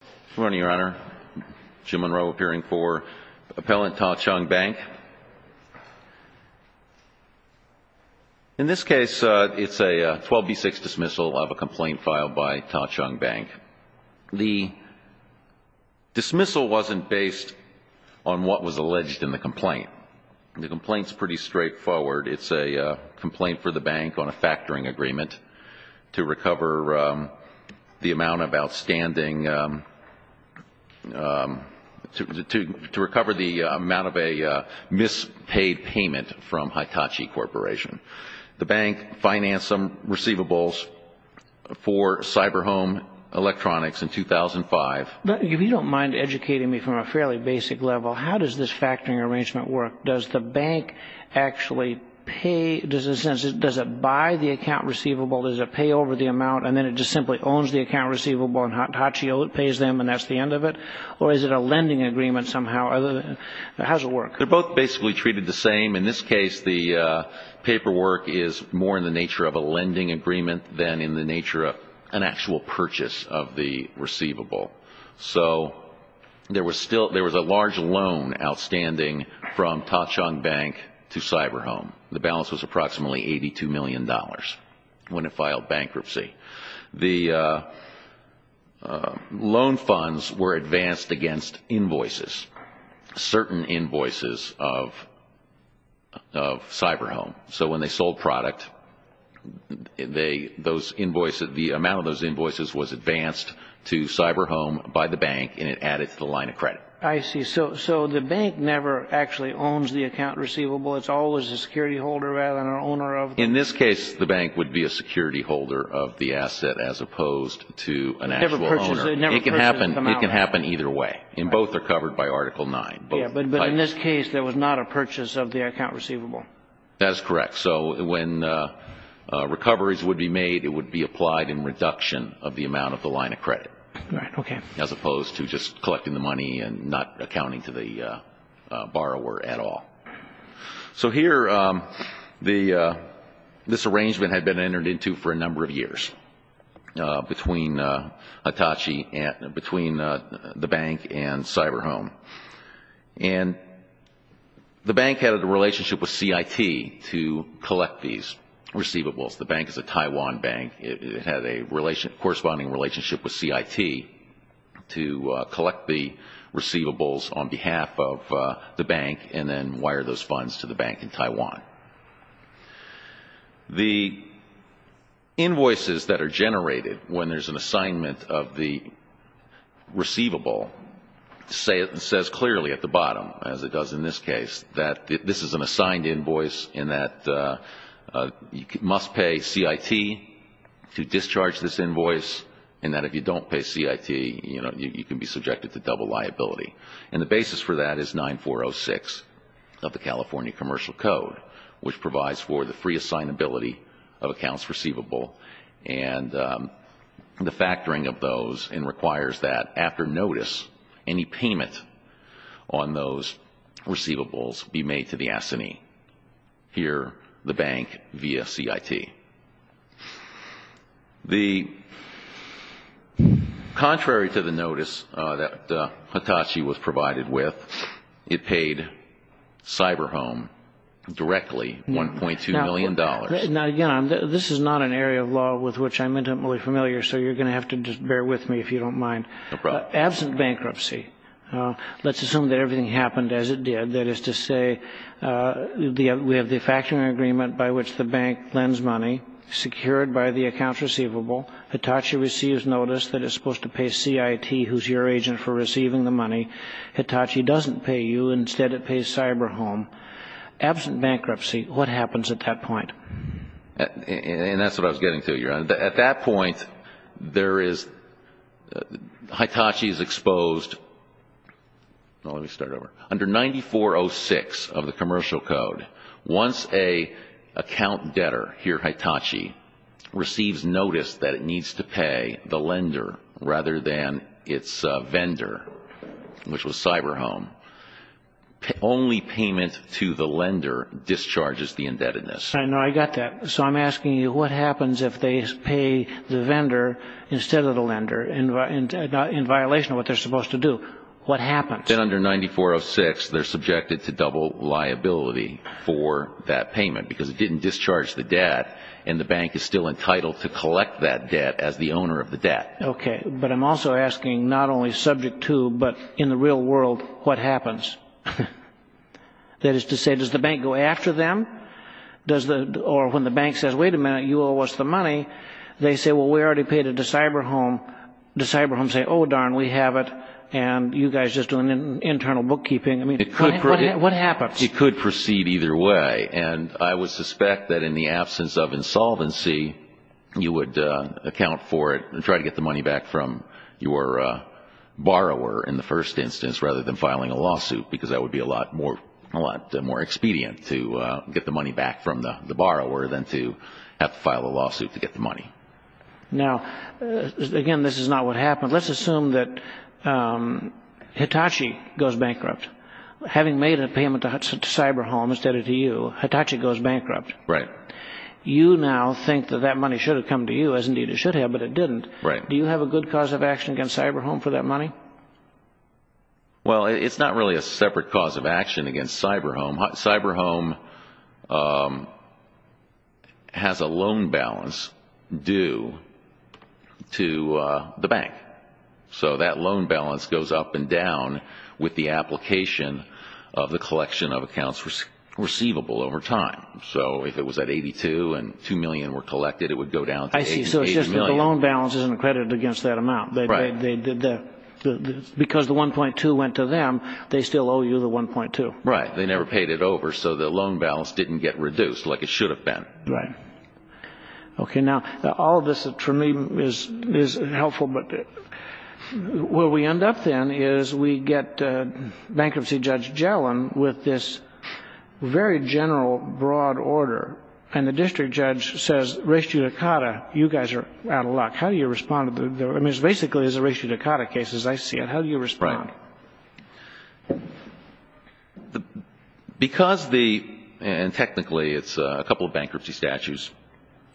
Good morning, Your Honor. Jim Monroe appearing for Appellant Ta Chong Bank. In this case, it's a 12B6 dismissal of a complaint filed by Ta Chong Bank. The dismissal wasn't based on what was alleged in the complaint. The complaint's pretty straightforward. It's a complaint for the bank on a factoring agreement to recover the amount of outstanding, to recover the amount of a mispaid payment from Hitachi Corporation. The bank financed some receivables for Cyber Home Electronics in 2005. But if you don't mind educating me from a fairly basic level, how does this factoring arrangement work? Does the bank actually pay, does it buy the account receivable, does it pay over the amount, and then it just simply owns the account receivable and Hitachi pays them and that's the end of it? Or is it a lending agreement somehow? How does it work? They're both basically treated the same. In this case, the paperwork is more in the nature of a lending agreement than in the nature of an actual purchase of the receivable. So there was a large loan outstanding from Ta Chong Bank to Cyber Home. The balance was approximately $82 million when it filed bankruptcy. The loan funds were advanced against invoices, certain invoices of Cyber Home. So when they sold product, the amount of those invoices was advanced to Cyber Home by the bank and it added to the line of credit. I see. So the bank never actually owns the account receivable. It's always a security holder rather than an owner of it. In this case, the bank would be a security holder of the asset as opposed to an actual owner. It never purchases the amount. It can happen either way. And both are covered by Article 9. But in this case, there was not a purchase of the account receivable. That is correct. So when recoveries would be made, it would be applied in reduction of the amount of the line of credit as opposed to just collecting the money and not accounting to the bank. This arrangement had been entered into for a number of years between Hitachi, between the bank and Cyber Home. And the bank had a relationship with CIT to collect these receivables. The bank is a Taiwan bank. It had a corresponding relationship with CIT to collect the receivables on behalf of the bank and then wire those funds to the bank in Taiwan. The invoices that are generated when there's an assignment of the receivable says clearly at the bottom, as it does in this case, that this is an assigned invoice and that you must pay CIT to discharge this invoice and that if you don't pay CIT, you can be subjected to double liability. And the basis for that is 9406 of the California Commercial Code, which provides for the free assignability of accounts receivable and the factoring of those and requires that, after notice, any payment on those receivables be made to the S&E, here the bank via CIT. Contrary to the notice that Hitachi was provided with, it paid Cyber Home directly $1.2 million. Now, again, this is not an area of law with which I'm intimately familiar, so you're going to have to just bear with me if you don't mind. Absent bankruptcy, let's assume that everything happened as it did. That is to say, we have the factoring agreement by which the bank lends money, secured by the accounts receivable. Hitachi receives notice that it's supposed to pay CIT, who's your agent for receiving the money. Hitachi doesn't pay you. Instead, it pays Cyber Home. Absent bankruptcy, what happens at that point? And that's what I was getting to, Your Honor. At that point, Hitachi is exposed under 9406 of the Commercial Code. Once an account debtor, here Hitachi, receives notice that it needs to pay the lender rather than its vendor, which was Cyber Home, only payment to the lender discharges the indebtedness. I know. I got that. So I'm asking you, what happens if they pay the vendor instead of the lender? Under 9406, they're subjected to double liability for that payment because it didn't discharge the debt, and the bank is still entitled to collect that debt as the owner of the debt. Okay. But I'm also asking, not only subject to, but in the real world, what happens? That is to say, does the bank go after them? Or when the bank says, wait a minute, you owe us the debt, and you guys are just doing internal bookkeeping. I mean, what happens? It could proceed either way. And I would suspect that in the absence of insolvency, you would account for it and try to get the money back from your borrower in the first instance, rather than filing a lawsuit, because that would be a lot more expedient to get the money back from the borrower than to have to file a lawsuit to get the money. Now, again, this is not what happened. Let's assume that Hitachi goes bankrupt. Having made a payment to Cyberhome instead of to you, Hitachi goes bankrupt. You now think that that money should have come to you, as indeed it should have, but it didn't. Do you have a good cause of action against Cyberhome for that money? Well, it's not really a separate cause of action against Cyberhome. It's a separate cause of action against the bank. So that loan balance goes up and down with the application of the collection of accounts receivable over time. So if it was at $82 million and $2 million were collected, it would go down to $88 million. I see. So it's just that the loan balance isn't accredited against that amount. Because the $1.2 million went to them, they still owe you the $1.2 million. Right. They never paid it over, so the loan balance didn't get reduced like it should have been. Right. Okay. Now, all of this, for me, is helpful, but where we end up, then, is we get Bankruptcy Judge Gellin with this very general, broad order, and the district judge says, res judicata, you guys are out of luck. How do you respond? I mean, it basically is a res judicata case, as I see it. How do you respond? Right. Because the — and technically, it's a couple of bankruptcy statutes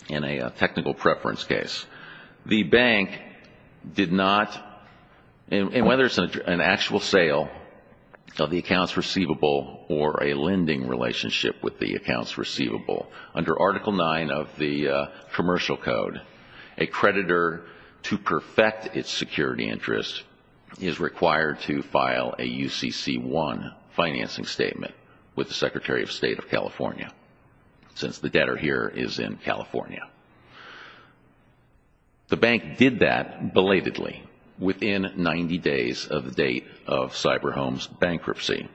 and a technical preference case. The bank did not — and whether it's an actual sale of the accounts receivable or a lending relationship with the accounts receivable, under Article 9 of the Commercial Code, a creditor, to perfect its security interest, is required to file a UCC1 financing statement with the Secretary of State of California, since the debtor here is in California. The bank did that, belatedly, within 90 days of the date of CyberHome's bankruptcy.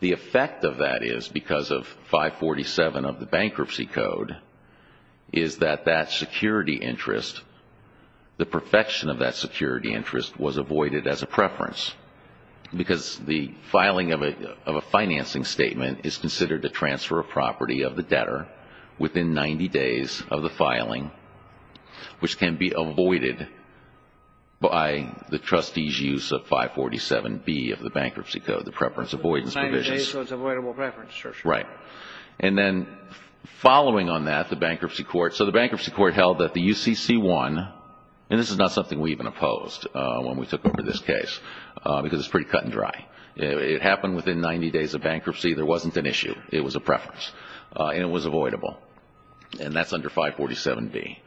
The effect of that is, because of 547 of the Bankruptcy Code, is that that security interest, the perfection of that security interest was avoided as a preference, because the filing of a financing statement is considered to transfer a property of the debtor within 90 days of the filing, which can be avoided by the trustee's use of 547B of the Bankruptcy Code, the preference avoidance provisions. 90 days, so it's avoidable preference, sir. Right. And then, following on that, the bankruptcy court — so the bankruptcy court held that the took over this case, because it's pretty cut and dry. It happened within 90 days of bankruptcy. There wasn't an issue. It was a preference. And it was avoidable. And that's under 547B.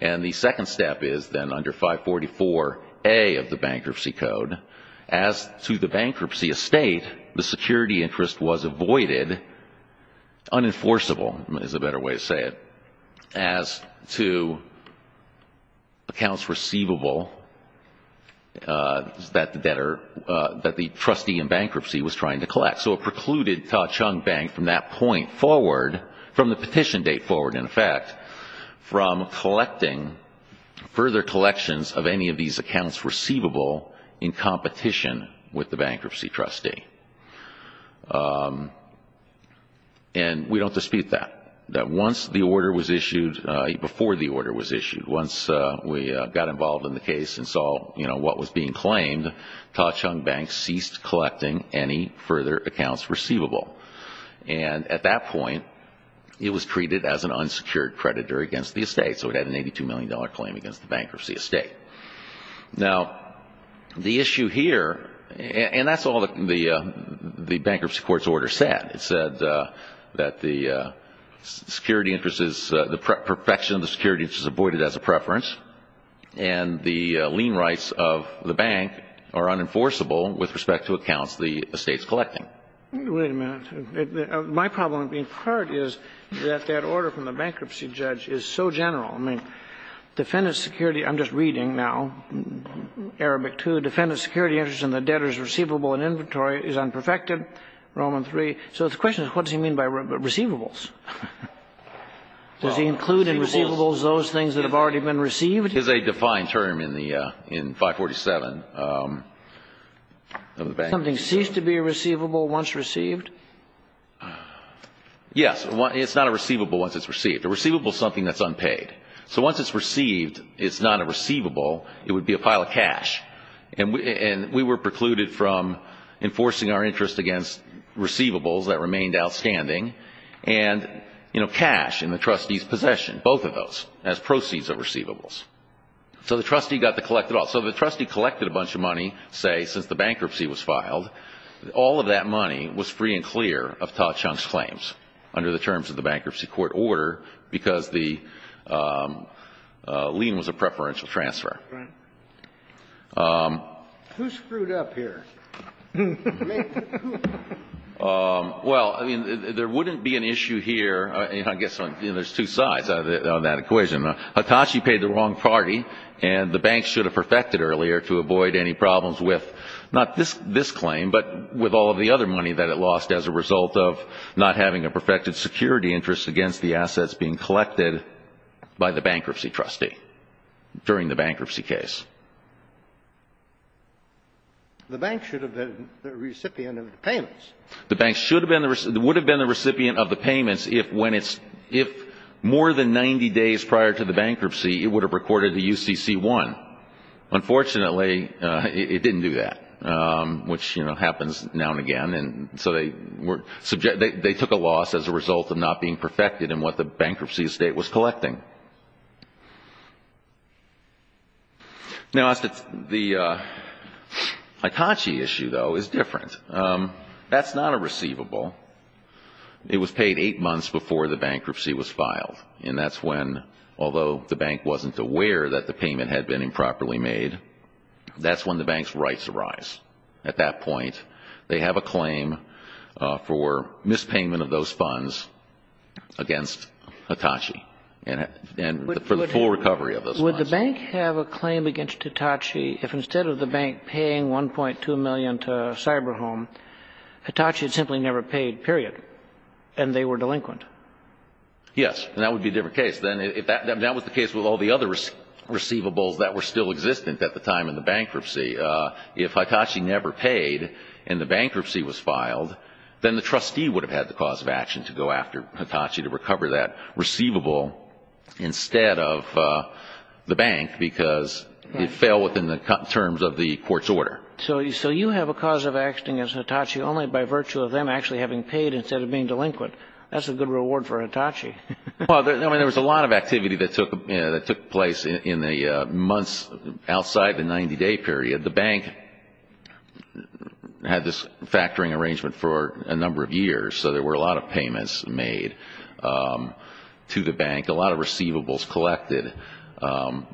And the second step is, then, under 544A of the Bankruptcy Code, as to the bankruptcy estate, the security interest was avoided, unenforceable is a better way to say it, as to accounts receivable that the debtor — that the trustee in bankruptcy was trying to collect. So it precluded Ta-Chung Bank from that point forward, from the petition date forward, in fact, from collecting further collections of any of these accounts receivable in competition with the bankruptcy trustee. And we don't dispute that, that once the order was issued — before the order was issued, once we got involved in the case and saw, you know, what was being claimed, Ta-Chung Bank ceased collecting any further accounts receivable. And at that point, it was treated as an unsecured creditor against the estate. So it had an $82 million claim against the bankruptcy estate. Now, the issue here — and that's all the bankruptcy court's order said. It said that the security interest is — the perfection of the security interest is avoided as a preference, and the lien rights of the bank are unenforceable with respect to accounts the estate's collecting. Wait a minute. My problem, in part, is that that order from the bankruptcy judge is so general. I mean, defendant's security — I'm just reading now, Arabic II — defendant's security interest in the debtor's receivable and inventory is unperfected, Roman III. So the question is, what does he mean by receivables? Does he include in receivables those things that have already been received? It's a defined term in 547 of the bank. Something ceased to be receivable once received? Yes. It's not a receivable once it's received. A receivable is something that's unpaid. So once it's received, it's not a receivable. It would be a pile of cash. And we were precluded from enforcing our interest against receivables that remained outstanding and, you know, cash in the trustee's possession, both of those, as proceeds of receivables. So the trustee got to collect it all. So the trustee collected a bunch of money, say, since the bankruptcy was filed. All of that money was free and clear of Todd Chung's claims under the terms of the bankruptcy court order because the lien was a preferential transfer. Right. Who screwed up here? Well, I mean, there wouldn't be an issue here. I guess there's two sides on that equation. Hitachi paid the wrong party, and the bank should have perfected earlier to avoid any problems with not this claim, but with all of the other money that it lost as a result of not having a perfected security interest against the assets being collected by the bankruptcy trustee during the bankruptcy case. The bank should have been the recipient of the payments. The bank would have been the recipient of the payments if more than 90 days prior to the bankruptcy, it would have recorded the UCC-1. Unfortunately, it didn't do that, which, you know, happens now and again. And so they took a loss as a result of not being perfected in what the bankruptcy estate was collecting. Now, the Hitachi issue, though, is different. That's not a receivable. It was paid eight months before the bankruptcy was filed, and that's when, although the bank wasn't aware that the payment had been improperly made, that's when the bank's rights arise. At that point, they have a claim for mispayment of those funds against Hitachi for the full recovery of those funds. Would the bank have a claim against Hitachi if instead of the bank paying $1.2 million to Cyberhome, Hitachi simply never paid, period, and they were delinquent? Yes, and that would be a different case. That was the case with all the other receivables that were still existent at the time in the bankruptcy. If Hitachi never paid and the bankruptcy was filed, then the trustee would have had the cause of action to go after Hitachi to recover that receivable instead of the bank because it fell within the terms of the court's order. So you have a cause of action against Hitachi only by virtue of them actually having paid instead of being delinquent. That's a good reward for Hitachi. Well, I mean, there was a lot of activity that took place in the months outside the 90-day period. The bank had this factoring arrangement for a number of years, so there were a lot of payments made to the bank, a lot of receivables collected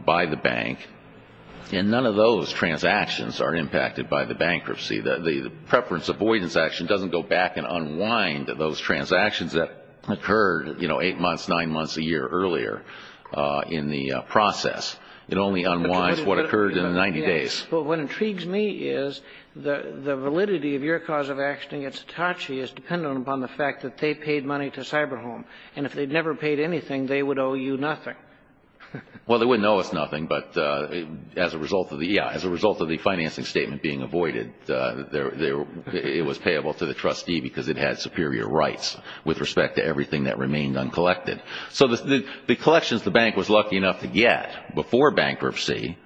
by the bank, and none of those transactions are impacted by the bankruptcy. The preference avoidance action doesn't go back and unwind those transactions that occurred eight months, nine months, a year earlier in the process. It only unwinds what occurred in the 90 days. But what intrigues me is the validity of your cause of action against Hitachi is dependent upon the fact that they paid money to Cyberhome, and if they'd never paid anything, they would owe you nothing. Well, they wouldn't owe us nothing, but as a result of the financing statement being avoided, it was payable to the trustee because it had superior rights with respect to everything that remained uncollected. So the collections the bank was lucky enough to get before bankruptcy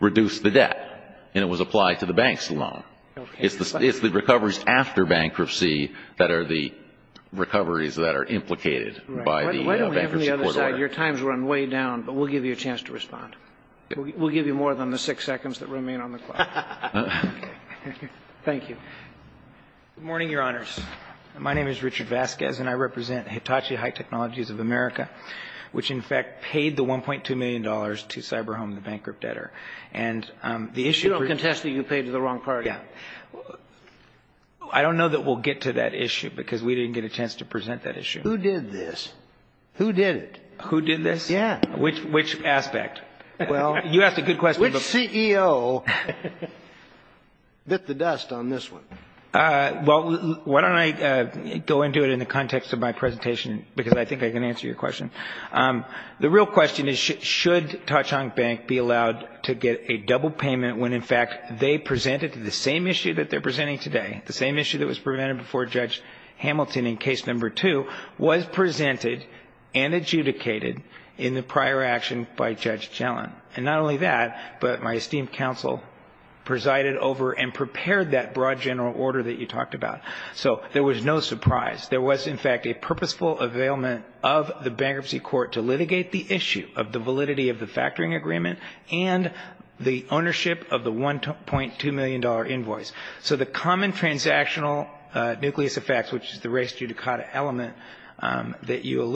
reduced the debt, and it was applied to the bank's loan. It's the recoveries after bankruptcy that are the recoveries that are implicated by the bankruptcy court order. Your time's run way down, but we'll give you a chance to respond. We'll give you more than the six seconds that remain on the clock. Thank you. Good morning, Your Honors. My name is Richard Vasquez, and I represent Hitachi High Technologies of America, which, in fact, paid the $1.2 million to Cyberhome, the bankrupt debtor. And the issue... You don't contest that you paid to the wrong party. Yeah. I don't know that we'll get to that issue because we didn't get a chance to present that issue. Who did this? Who did it? Who did this? Yeah. Which aspect? You asked a good question. Which CEO bit the dust on this one? Well, why don't I go into it in the context of my presentation, because I think I can answer your question. The real question is, should Tachank Bank be allowed to get a double payment when, in fact, they presented to the same issue that they're presenting today, the same issue that was presented before Judge Hamilton in case number two, was presented and adjudicated in the prior action by Judge Gellin? And not only that, but my esteemed counsel presided over and prepared that broad general order that you talked about. So there was no surprise. There was, in fact, a purposeful availment of the bankruptcy court to litigate the issue of the validity of the factoring agreement and the ownership of the $1.2 million invoice. So the common transactional nucleus effects, which is the res judicata element that you I'm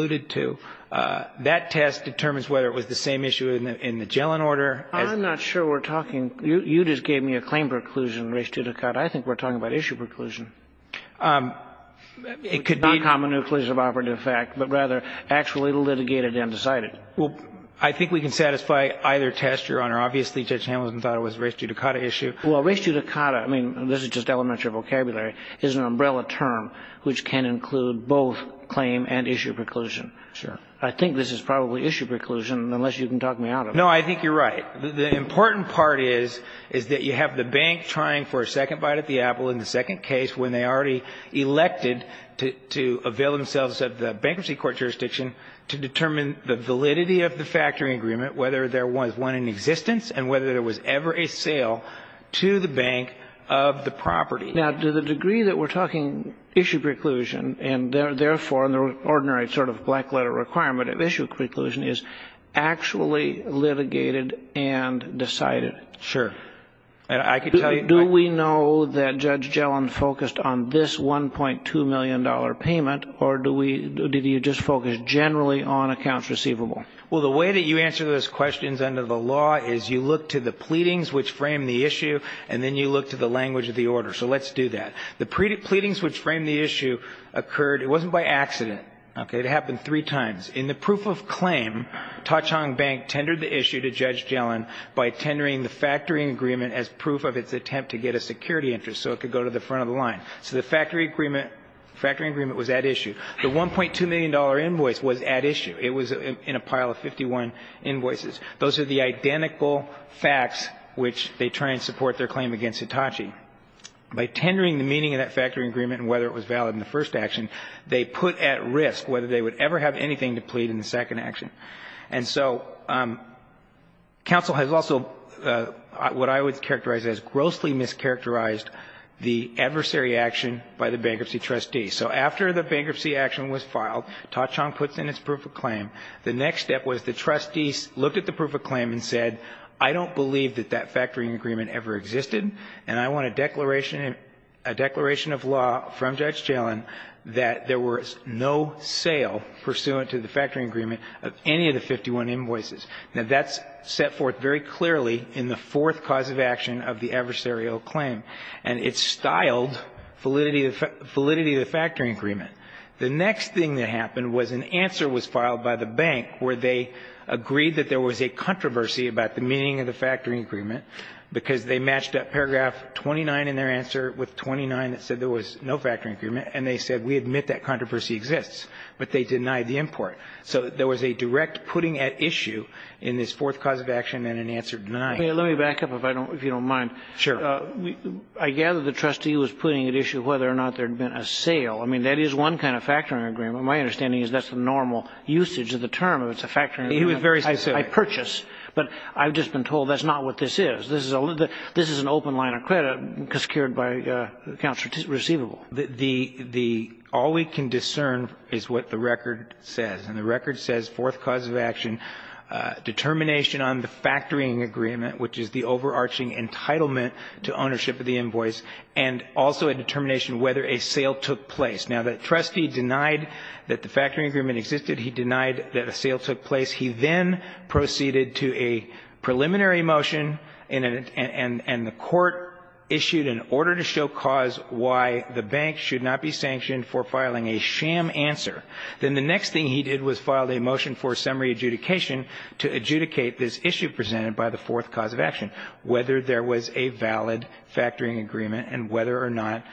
not sure we're talking. You just gave me a claim preclusion, res judicata. I think we're talking about issue preclusion. It could be not common nucleus of operative effect, but rather actually litigated and decided. Well, I think we can satisfy either test, Your Honor. Obviously, Judge Hamilton thought it was res judicata issue. Well, res judicata, I mean, this is just elementary vocabulary, is an umbrella term which can include both claim and issue preclusion. I think this is probably issue preclusion, unless you can talk me out of it. No, I think you're right. The important part is that you have the bank trying for a second bite at the apple in the second case when they already elected to avail themselves of the bankruptcy court jurisdiction to determine the validity of the factoring agreement, whether there was one in existence and whether there was ever a sale to the bank of the property. Now, to the degree that we're talking issue preclusion and therefore the ordinary black letter requirement of issue preclusion is actually litigated and decided. Sure. Do we know that Judge Gellin focused on this $1.2 million payment, or did he just focus generally on accounts receivable? Well, the way that you answer those questions under the law is you look to the pleadings which frame the issue, and then you look to the language of the order. So let's do that. The pleadings which frame the issue occurred, it wasn't by accident. Okay. It happened three times. In the proof of claim, Ta-Chung Bank tendered the issue to Judge Gellin by tendering the factoring agreement as proof of its attempt to get a security interest so it could go to the front of the line. So the factoring agreement was at issue. The $1.2 million invoice was at issue. It was in a pile of 51 invoices. Those are the identical facts which they try and support their claim against Hitachi. By tendering the meaning of that factoring agreement and whether it was valid in the first action, they put at risk whether they would ever have anything to plead in the second action. And so counsel has also what I would characterize as grossly mischaracterized the adversary action by the bankruptcy trustee. So after the bankruptcy action was filed, Ta-Chung puts in its proof of claim. The next step was the trustees looked at the proof of claim and said, I don't believe that that factoring agreement ever existed, and I want a declaration of law from Judge Allen that there was no sale pursuant to the factoring agreement of any of the 51 invoices. Now, that's set forth very clearly in the fourth cause of action of the adversarial claim, and it's styled validity of the factoring agreement. The next thing that happened was an answer was filed by the bank where they agreed that there was a controversy about the meaning of the factoring agreement because they matched up paragraph 29 in their answer with 29 that said there was no factoring agreement, and they said we admit that controversy exists, but they denied the import. So there was a direct putting at issue in this fourth cause of action and an answer denied. Let me back up if you don't mind. Sure. I gather the trustee was putting at issue whether or not there had been a sale. I mean, that is one kind of factoring agreement. My understanding is that's the normal usage of the term if it's a factoring agreement. He was very specific. I purchase, but I've just been told that's not what this is. This is an open line of credit secured by accounts receivable. The all we can discern is what the record says, and the record says fourth cause of action, determination on the factoring agreement, which is the overarching entitlement to ownership of the invoice, and also a determination whether a sale took place. Now, the trustee denied that the factoring agreement existed. He denied that a sale took place. He then proceeded to a preliminary motion, and the Court issued an order to show why the bank should not be sanctioned for filing a sham answer. Then the next thing he did was file a motion for summary adjudication to adjudicate this issue presented by the fourth cause of action, whether there was a valid factoring agreement and whether or not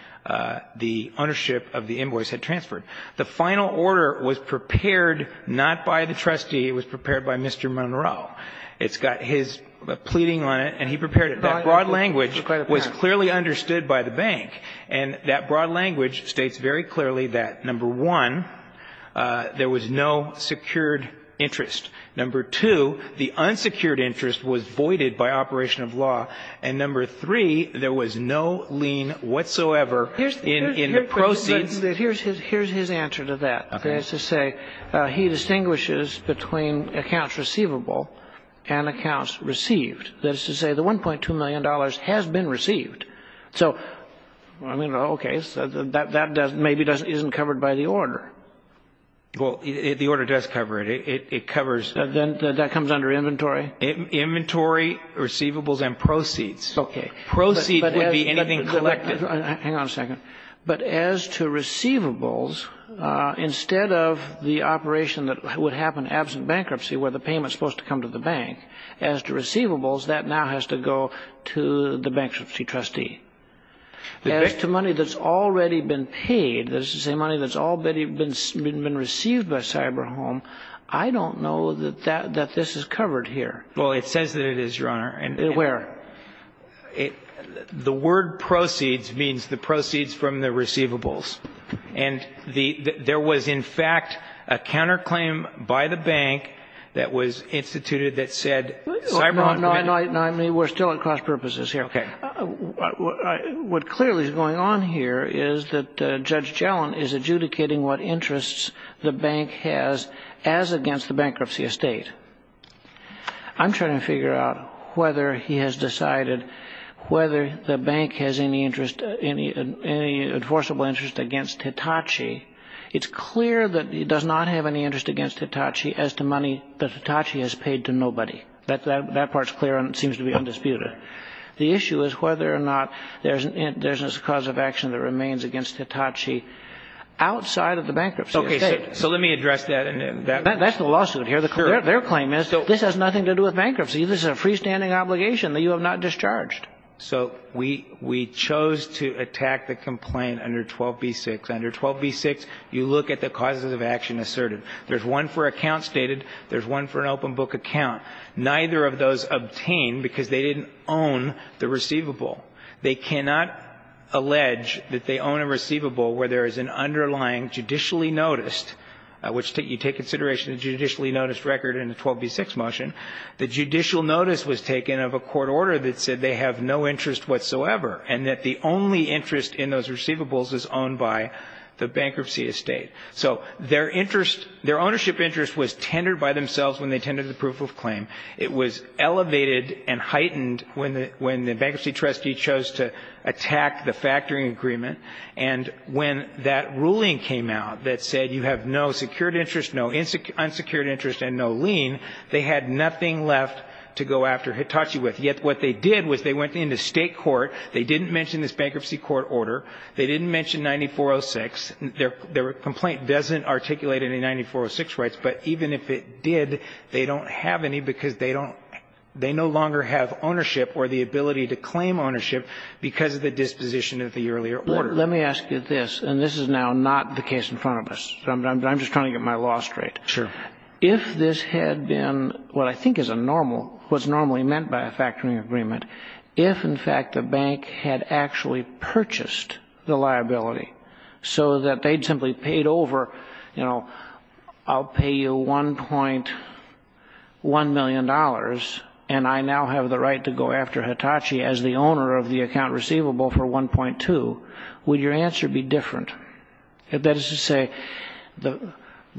the ownership of the invoice had transferred. The final order was prepared not by the trustee. It was prepared by Mr. Monroe. It's got his pleading on it, and he prepared it. That broad language was clearly understood by the bank, and that broad language states very clearly that, number one, there was no secured interest. Number two, the unsecured interest was voided by operation of law. And number three, there was no lien whatsoever in the proceeds. Here's his answer to that. He has to say he distinguishes between accounts receivable and accounts received. That is to say, the $1.2 million has been received. So, I mean, okay, that maybe isn't covered by the order. Well, the order does cover it. It covers... Then that comes under inventory? Inventory, receivables, and proceeds. Okay. Proceeds would be anything collected. Hang on a second. But as to receivables, instead of the operation that would happen absent bankruptcy, where the payment is supposed to come to the bank, as to receivables, that now has to go to the bankruptcy trustee. As to money that's already been paid, that is to say, money that's already been received by CyberHome, I don't know that this is covered here. Well, it says that it is, Your Honor. Where? The word proceeds means the proceeds from the receivables. And there was, in fact, a counterclaim by the bank that was instituted that said CyberHome... No, I mean, we're still at cross purposes here. Okay. What clearly is going on here is that Judge Gellin is adjudicating what interests the bank has as against the bankruptcy estate. I'm trying to figure out whether he has decided whether the bank has any enforceable interest against Hitachi. It's clear that he does not have any interest against Hitachi as to money that Hitachi has paid to nobody. That part's clear and seems to be undisputed. The issue is whether or not there's a cause of action that remains against Hitachi outside of the bankruptcy estate. So let me address that. That's the lawsuit here. Their claim is this has nothing to do with bankruptcy. This is a freestanding obligation that you have not discharged. So we chose to attack the complaint under 12b-6. Under 12b-6, you look at the causes of action asserted. There's one for account stated. There's one for an open book account. Neither of those obtained because they didn't own the receivable. They cannot allege that they own a receivable where there is an underlying judicially noticed, which you take consideration of the judicially noticed record in the 12b-6 motion. The judicial notice was taken of a court order that said they have no interest whatsoever and that the only interest in those receivables is owned by the bankruptcy estate. So their interest, their ownership interest was tendered by themselves when they tendered the proof of claim. It was elevated and heightened when the bankruptcy trustee chose to attack the factoring agreement. And when that ruling came out that said you have no secured interest, no unsecured interest and no lien, they had nothing left to go after Hitachi with. Yet what they did was they went into state court. They didn't mention this bankruptcy court order. They didn't mention 9406. Their complaint doesn't articulate any 9406 rights. But even if it did, they don't have any because they don't they no longer have ownership or the ability to claim ownership because of the disposition of the earlier order. Let me ask you this, and this is now not the case in front of us. I'm just trying to get my law straight. Sure. If this had been what I think is a normal, what's normally meant by a factoring agreement, if in fact the bank had actually purchased the liability so that they'd simply paid over, you know, I'll pay you $1.1 million and I now have the right to go after Hitachi as the owner of the account receivable for 1.2, would your answer be different? That is to say, the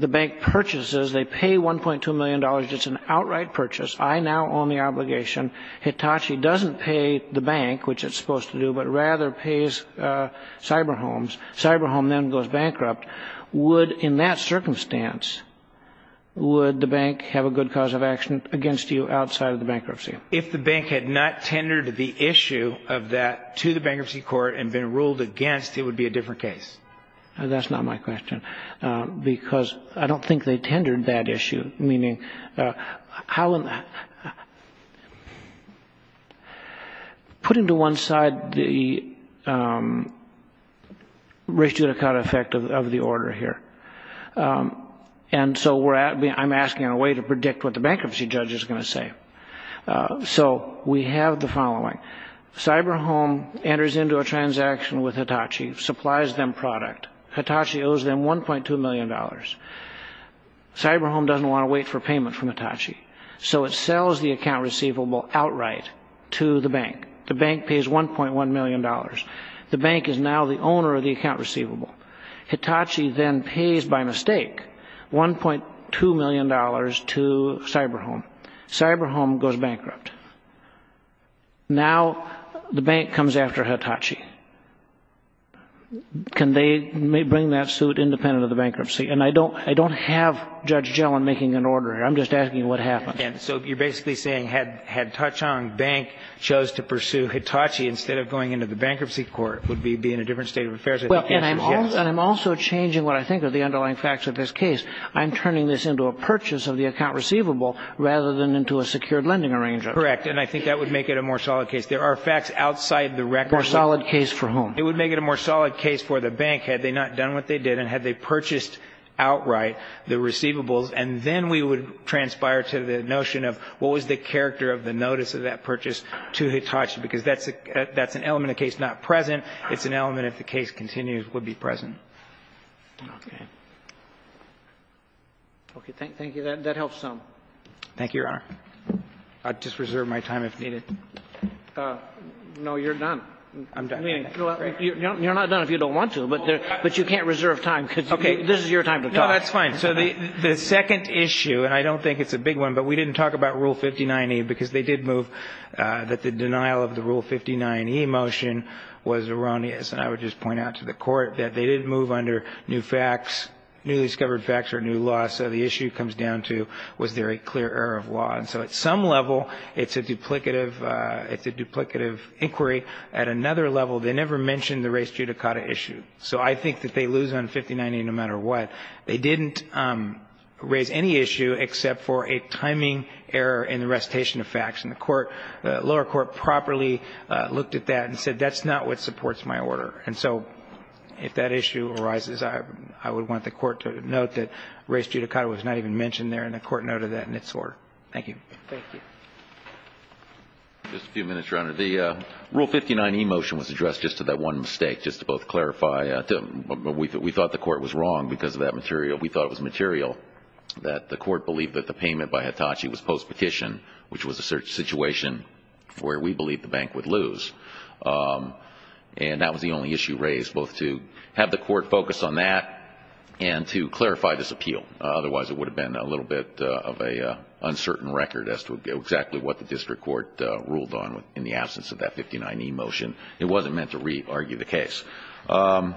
bank purchases, they pay $1.2 million. It's an outright purchase. I now own the obligation. Hitachi doesn't pay the bank, which it's supposed to do, but rather pays cyber homes. Cyber home then goes bankrupt. In that circumstance, would the bank have a good cause of action against you outside of the bankruptcy? If the bank had not tendered the issue of that to the bankruptcy court and been ruled against, it would be a different case. That's not my question. Because I don't think they tendered that issue. Meaning, how... Put into one side the res judicata effect of the order here. And so I'm asking in a way to predict what the bankruptcy judge is going to say. So we have the following. Cyber home enters into a transaction with Hitachi, supplies them product. Hitachi owes them $1.2 million. Cyber home doesn't want to wait for payment from Hitachi. So it sells the account receivable outright to the bank. The bank pays $1.1 million. The bank is now the owner of the account receivable. Hitachi then pays, by mistake, $1.2 million to cyber home. Cyber home goes bankrupt. Now, the bank comes after Hitachi. Can they bring that suit independent of the bankruptcy? And I don't have Judge Gellin making an order here. I'm just asking what happened. And so you're basically saying, had Ta-Chung Bank chose to pursue Hitachi instead of going into the bankruptcy court, it would be in a different state of affairs. Well, and I'm also changing what I think are the underlying facts of this case. I'm turning this into a purchase of the account receivable rather than into a secured lending arrangement. Correct. And I think that would make it a more solid case. There are facts outside the record. A more solid case for whom? It would make it a more solid case for the bank, had they not done what they did and had they purchased outright the receivables. And then we would transpire to the notion of what was the character of the notice of that purchase to Hitachi. Because that's an element of the case not present. It's an element, if the case continues, would be present. Okay. Okay. Thank you. That helps some. Thank you, Your Honor. I'll just reserve my time if needed. No, you're done. I'm done. You're not done if you don't want to. But you can't reserve time because this is your time to talk. No, that's fine. So the second issue, and I don't think it's a big one, but we didn't talk about Rule 59e because they did move that the denial of the Rule 59e motion was erroneous. And I would just point out to the Court that they didn't move under new facts, newly discovered facts or new laws. So the issue comes down to, was there a clear error of law? And so at some level, it's a duplicative inquiry. At another level, they never mentioned the race judicata issue. So I think that they lose on 59e no matter what. They didn't raise any issue except for a timing error in the recitation of facts. And the lower court properly looked at that and said, that's not what supports my order. And so if that issue arises, I would want the Court to note that race judicata was not even mentioned there. And the Court noted that in its order. Thank you. Just a few minutes, Your Honor. The Rule 59e motion was addressed just to that one mistake, just to both clarify. We thought the Court was wrong because of that material. We thought it was material that the Court believed that the payment by Hitachi was post-petition, which was a situation where we believed the bank would lose. And that was the only issue raised, both to have the Court focus on that and to clarify this appeal. Otherwise, it would have been a little bit of an uncertain record as to exactly what the district court ruled on in the absence of that 59e motion. It wasn't meant to re-argue the case. And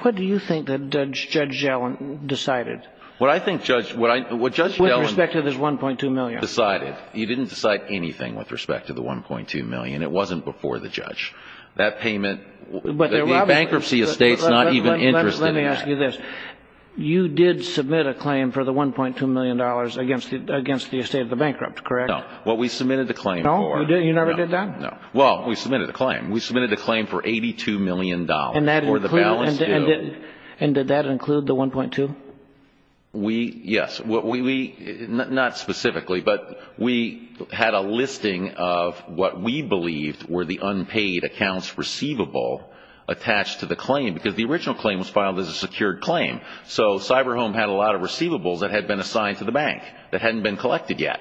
what do you think that Judge Gellin decided? What I think, Judge, what Judge Gellin decided, he didn't decide anything with respect to the $1.2 million. It wasn't before the judge. That payment, the bankruptcy estate's not even interested in that. Let me ask you this. You did submit a claim for the $1.2 million against the estate of the bankrupt, correct? No. What we submitted the claim for. No? You never did that? No. Well, we submitted a claim. We submitted a claim for $82 million for the balance due. And did that include the $1.2? We, yes. Not specifically. But we had a listing of what we believed were the unpaid accounts receivable attached to the claim. Because the original claim was filed as a secured claim. So Cyberhome had a lot of receivables that had been assigned to the bank that hadn't been collected yet.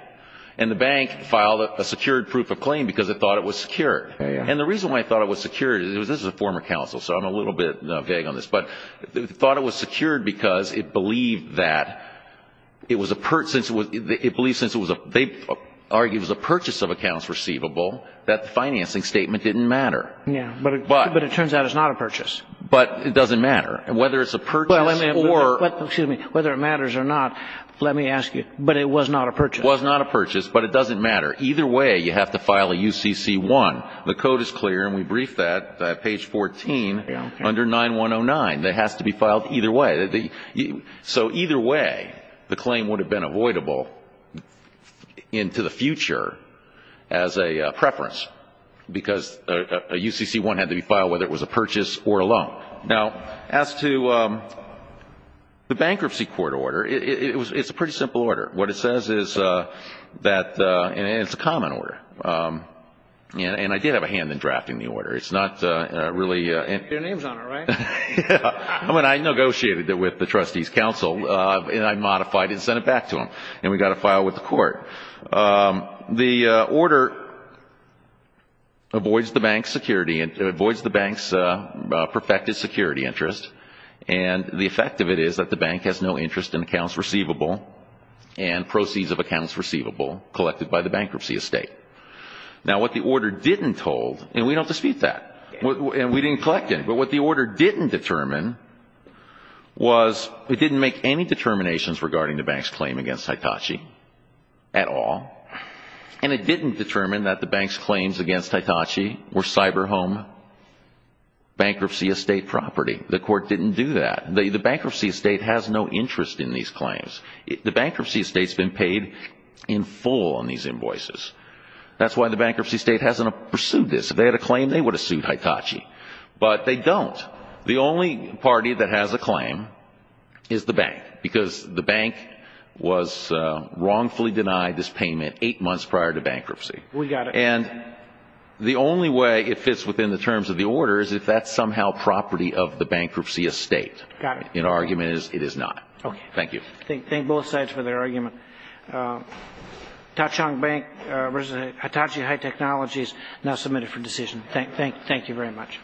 And the bank filed a secured proof of claim because it thought it was secure. And the reason why I thought it was secure, this is a former counsel, so I'm a little bit vague on this. Thought it was secured because it believed that it was a purchase of accounts receivable that the financing statement didn't matter. Yeah. But it turns out it's not a purchase. But it doesn't matter. Whether it's a purchase or... Well, excuse me. Whether it matters or not, let me ask you. But it was not a purchase. Was not a purchase. But it doesn't matter. Either way, you have to file a UCC-1. The code is clear. And we briefed that. Page 14. Under 9109. That has to be filed either way. So either way, the claim would have been avoidable into the future as a preference. Because a UCC-1 had to be filed whether it was a purchase or a loan. Now, as to the bankruptcy court order, it's a pretty simple order. What it says is that, and it's a common order. And I did have a hand in drafting the order. It's not really... Your name's on it, right? I mean, I negotiated it with the trustee's counsel. And I modified it and sent it back to him. And we got a file with the court. The order avoids the bank's security and avoids the bank's perfected security interest. And the effect of it is that the bank has no interest in accounts receivable and proceeds of accounts receivable collected by the bankruptcy estate. Now, what the order didn't hold... And we don't dispute that. And we didn't collect it. But what the order didn't determine was... It didn't make any determinations regarding the bank's claim against Hitachi at all. And it didn't determine that the bank's claims against Hitachi were cyber home bankruptcy estate property. The court didn't do that. The bankruptcy estate has no interest in these claims. The bankruptcy estate's been paid in full on these invoices. That's why the bankruptcy estate hasn't pursued this. If they had a claim, they would have sued Hitachi. But they don't. The only party that has a claim is the bank. Because the bank was wrongfully denied this payment eight months prior to bankruptcy. We got it. And the only way it fits within the terms of the order is if that's somehow property of the bankruptcy estate. Got it. And the argument is it is not. Okay. Thank you. Thank both sides for their argument. Tauchung Bank v. Hitachi High Technologies now submitted for decision. Thank you very much.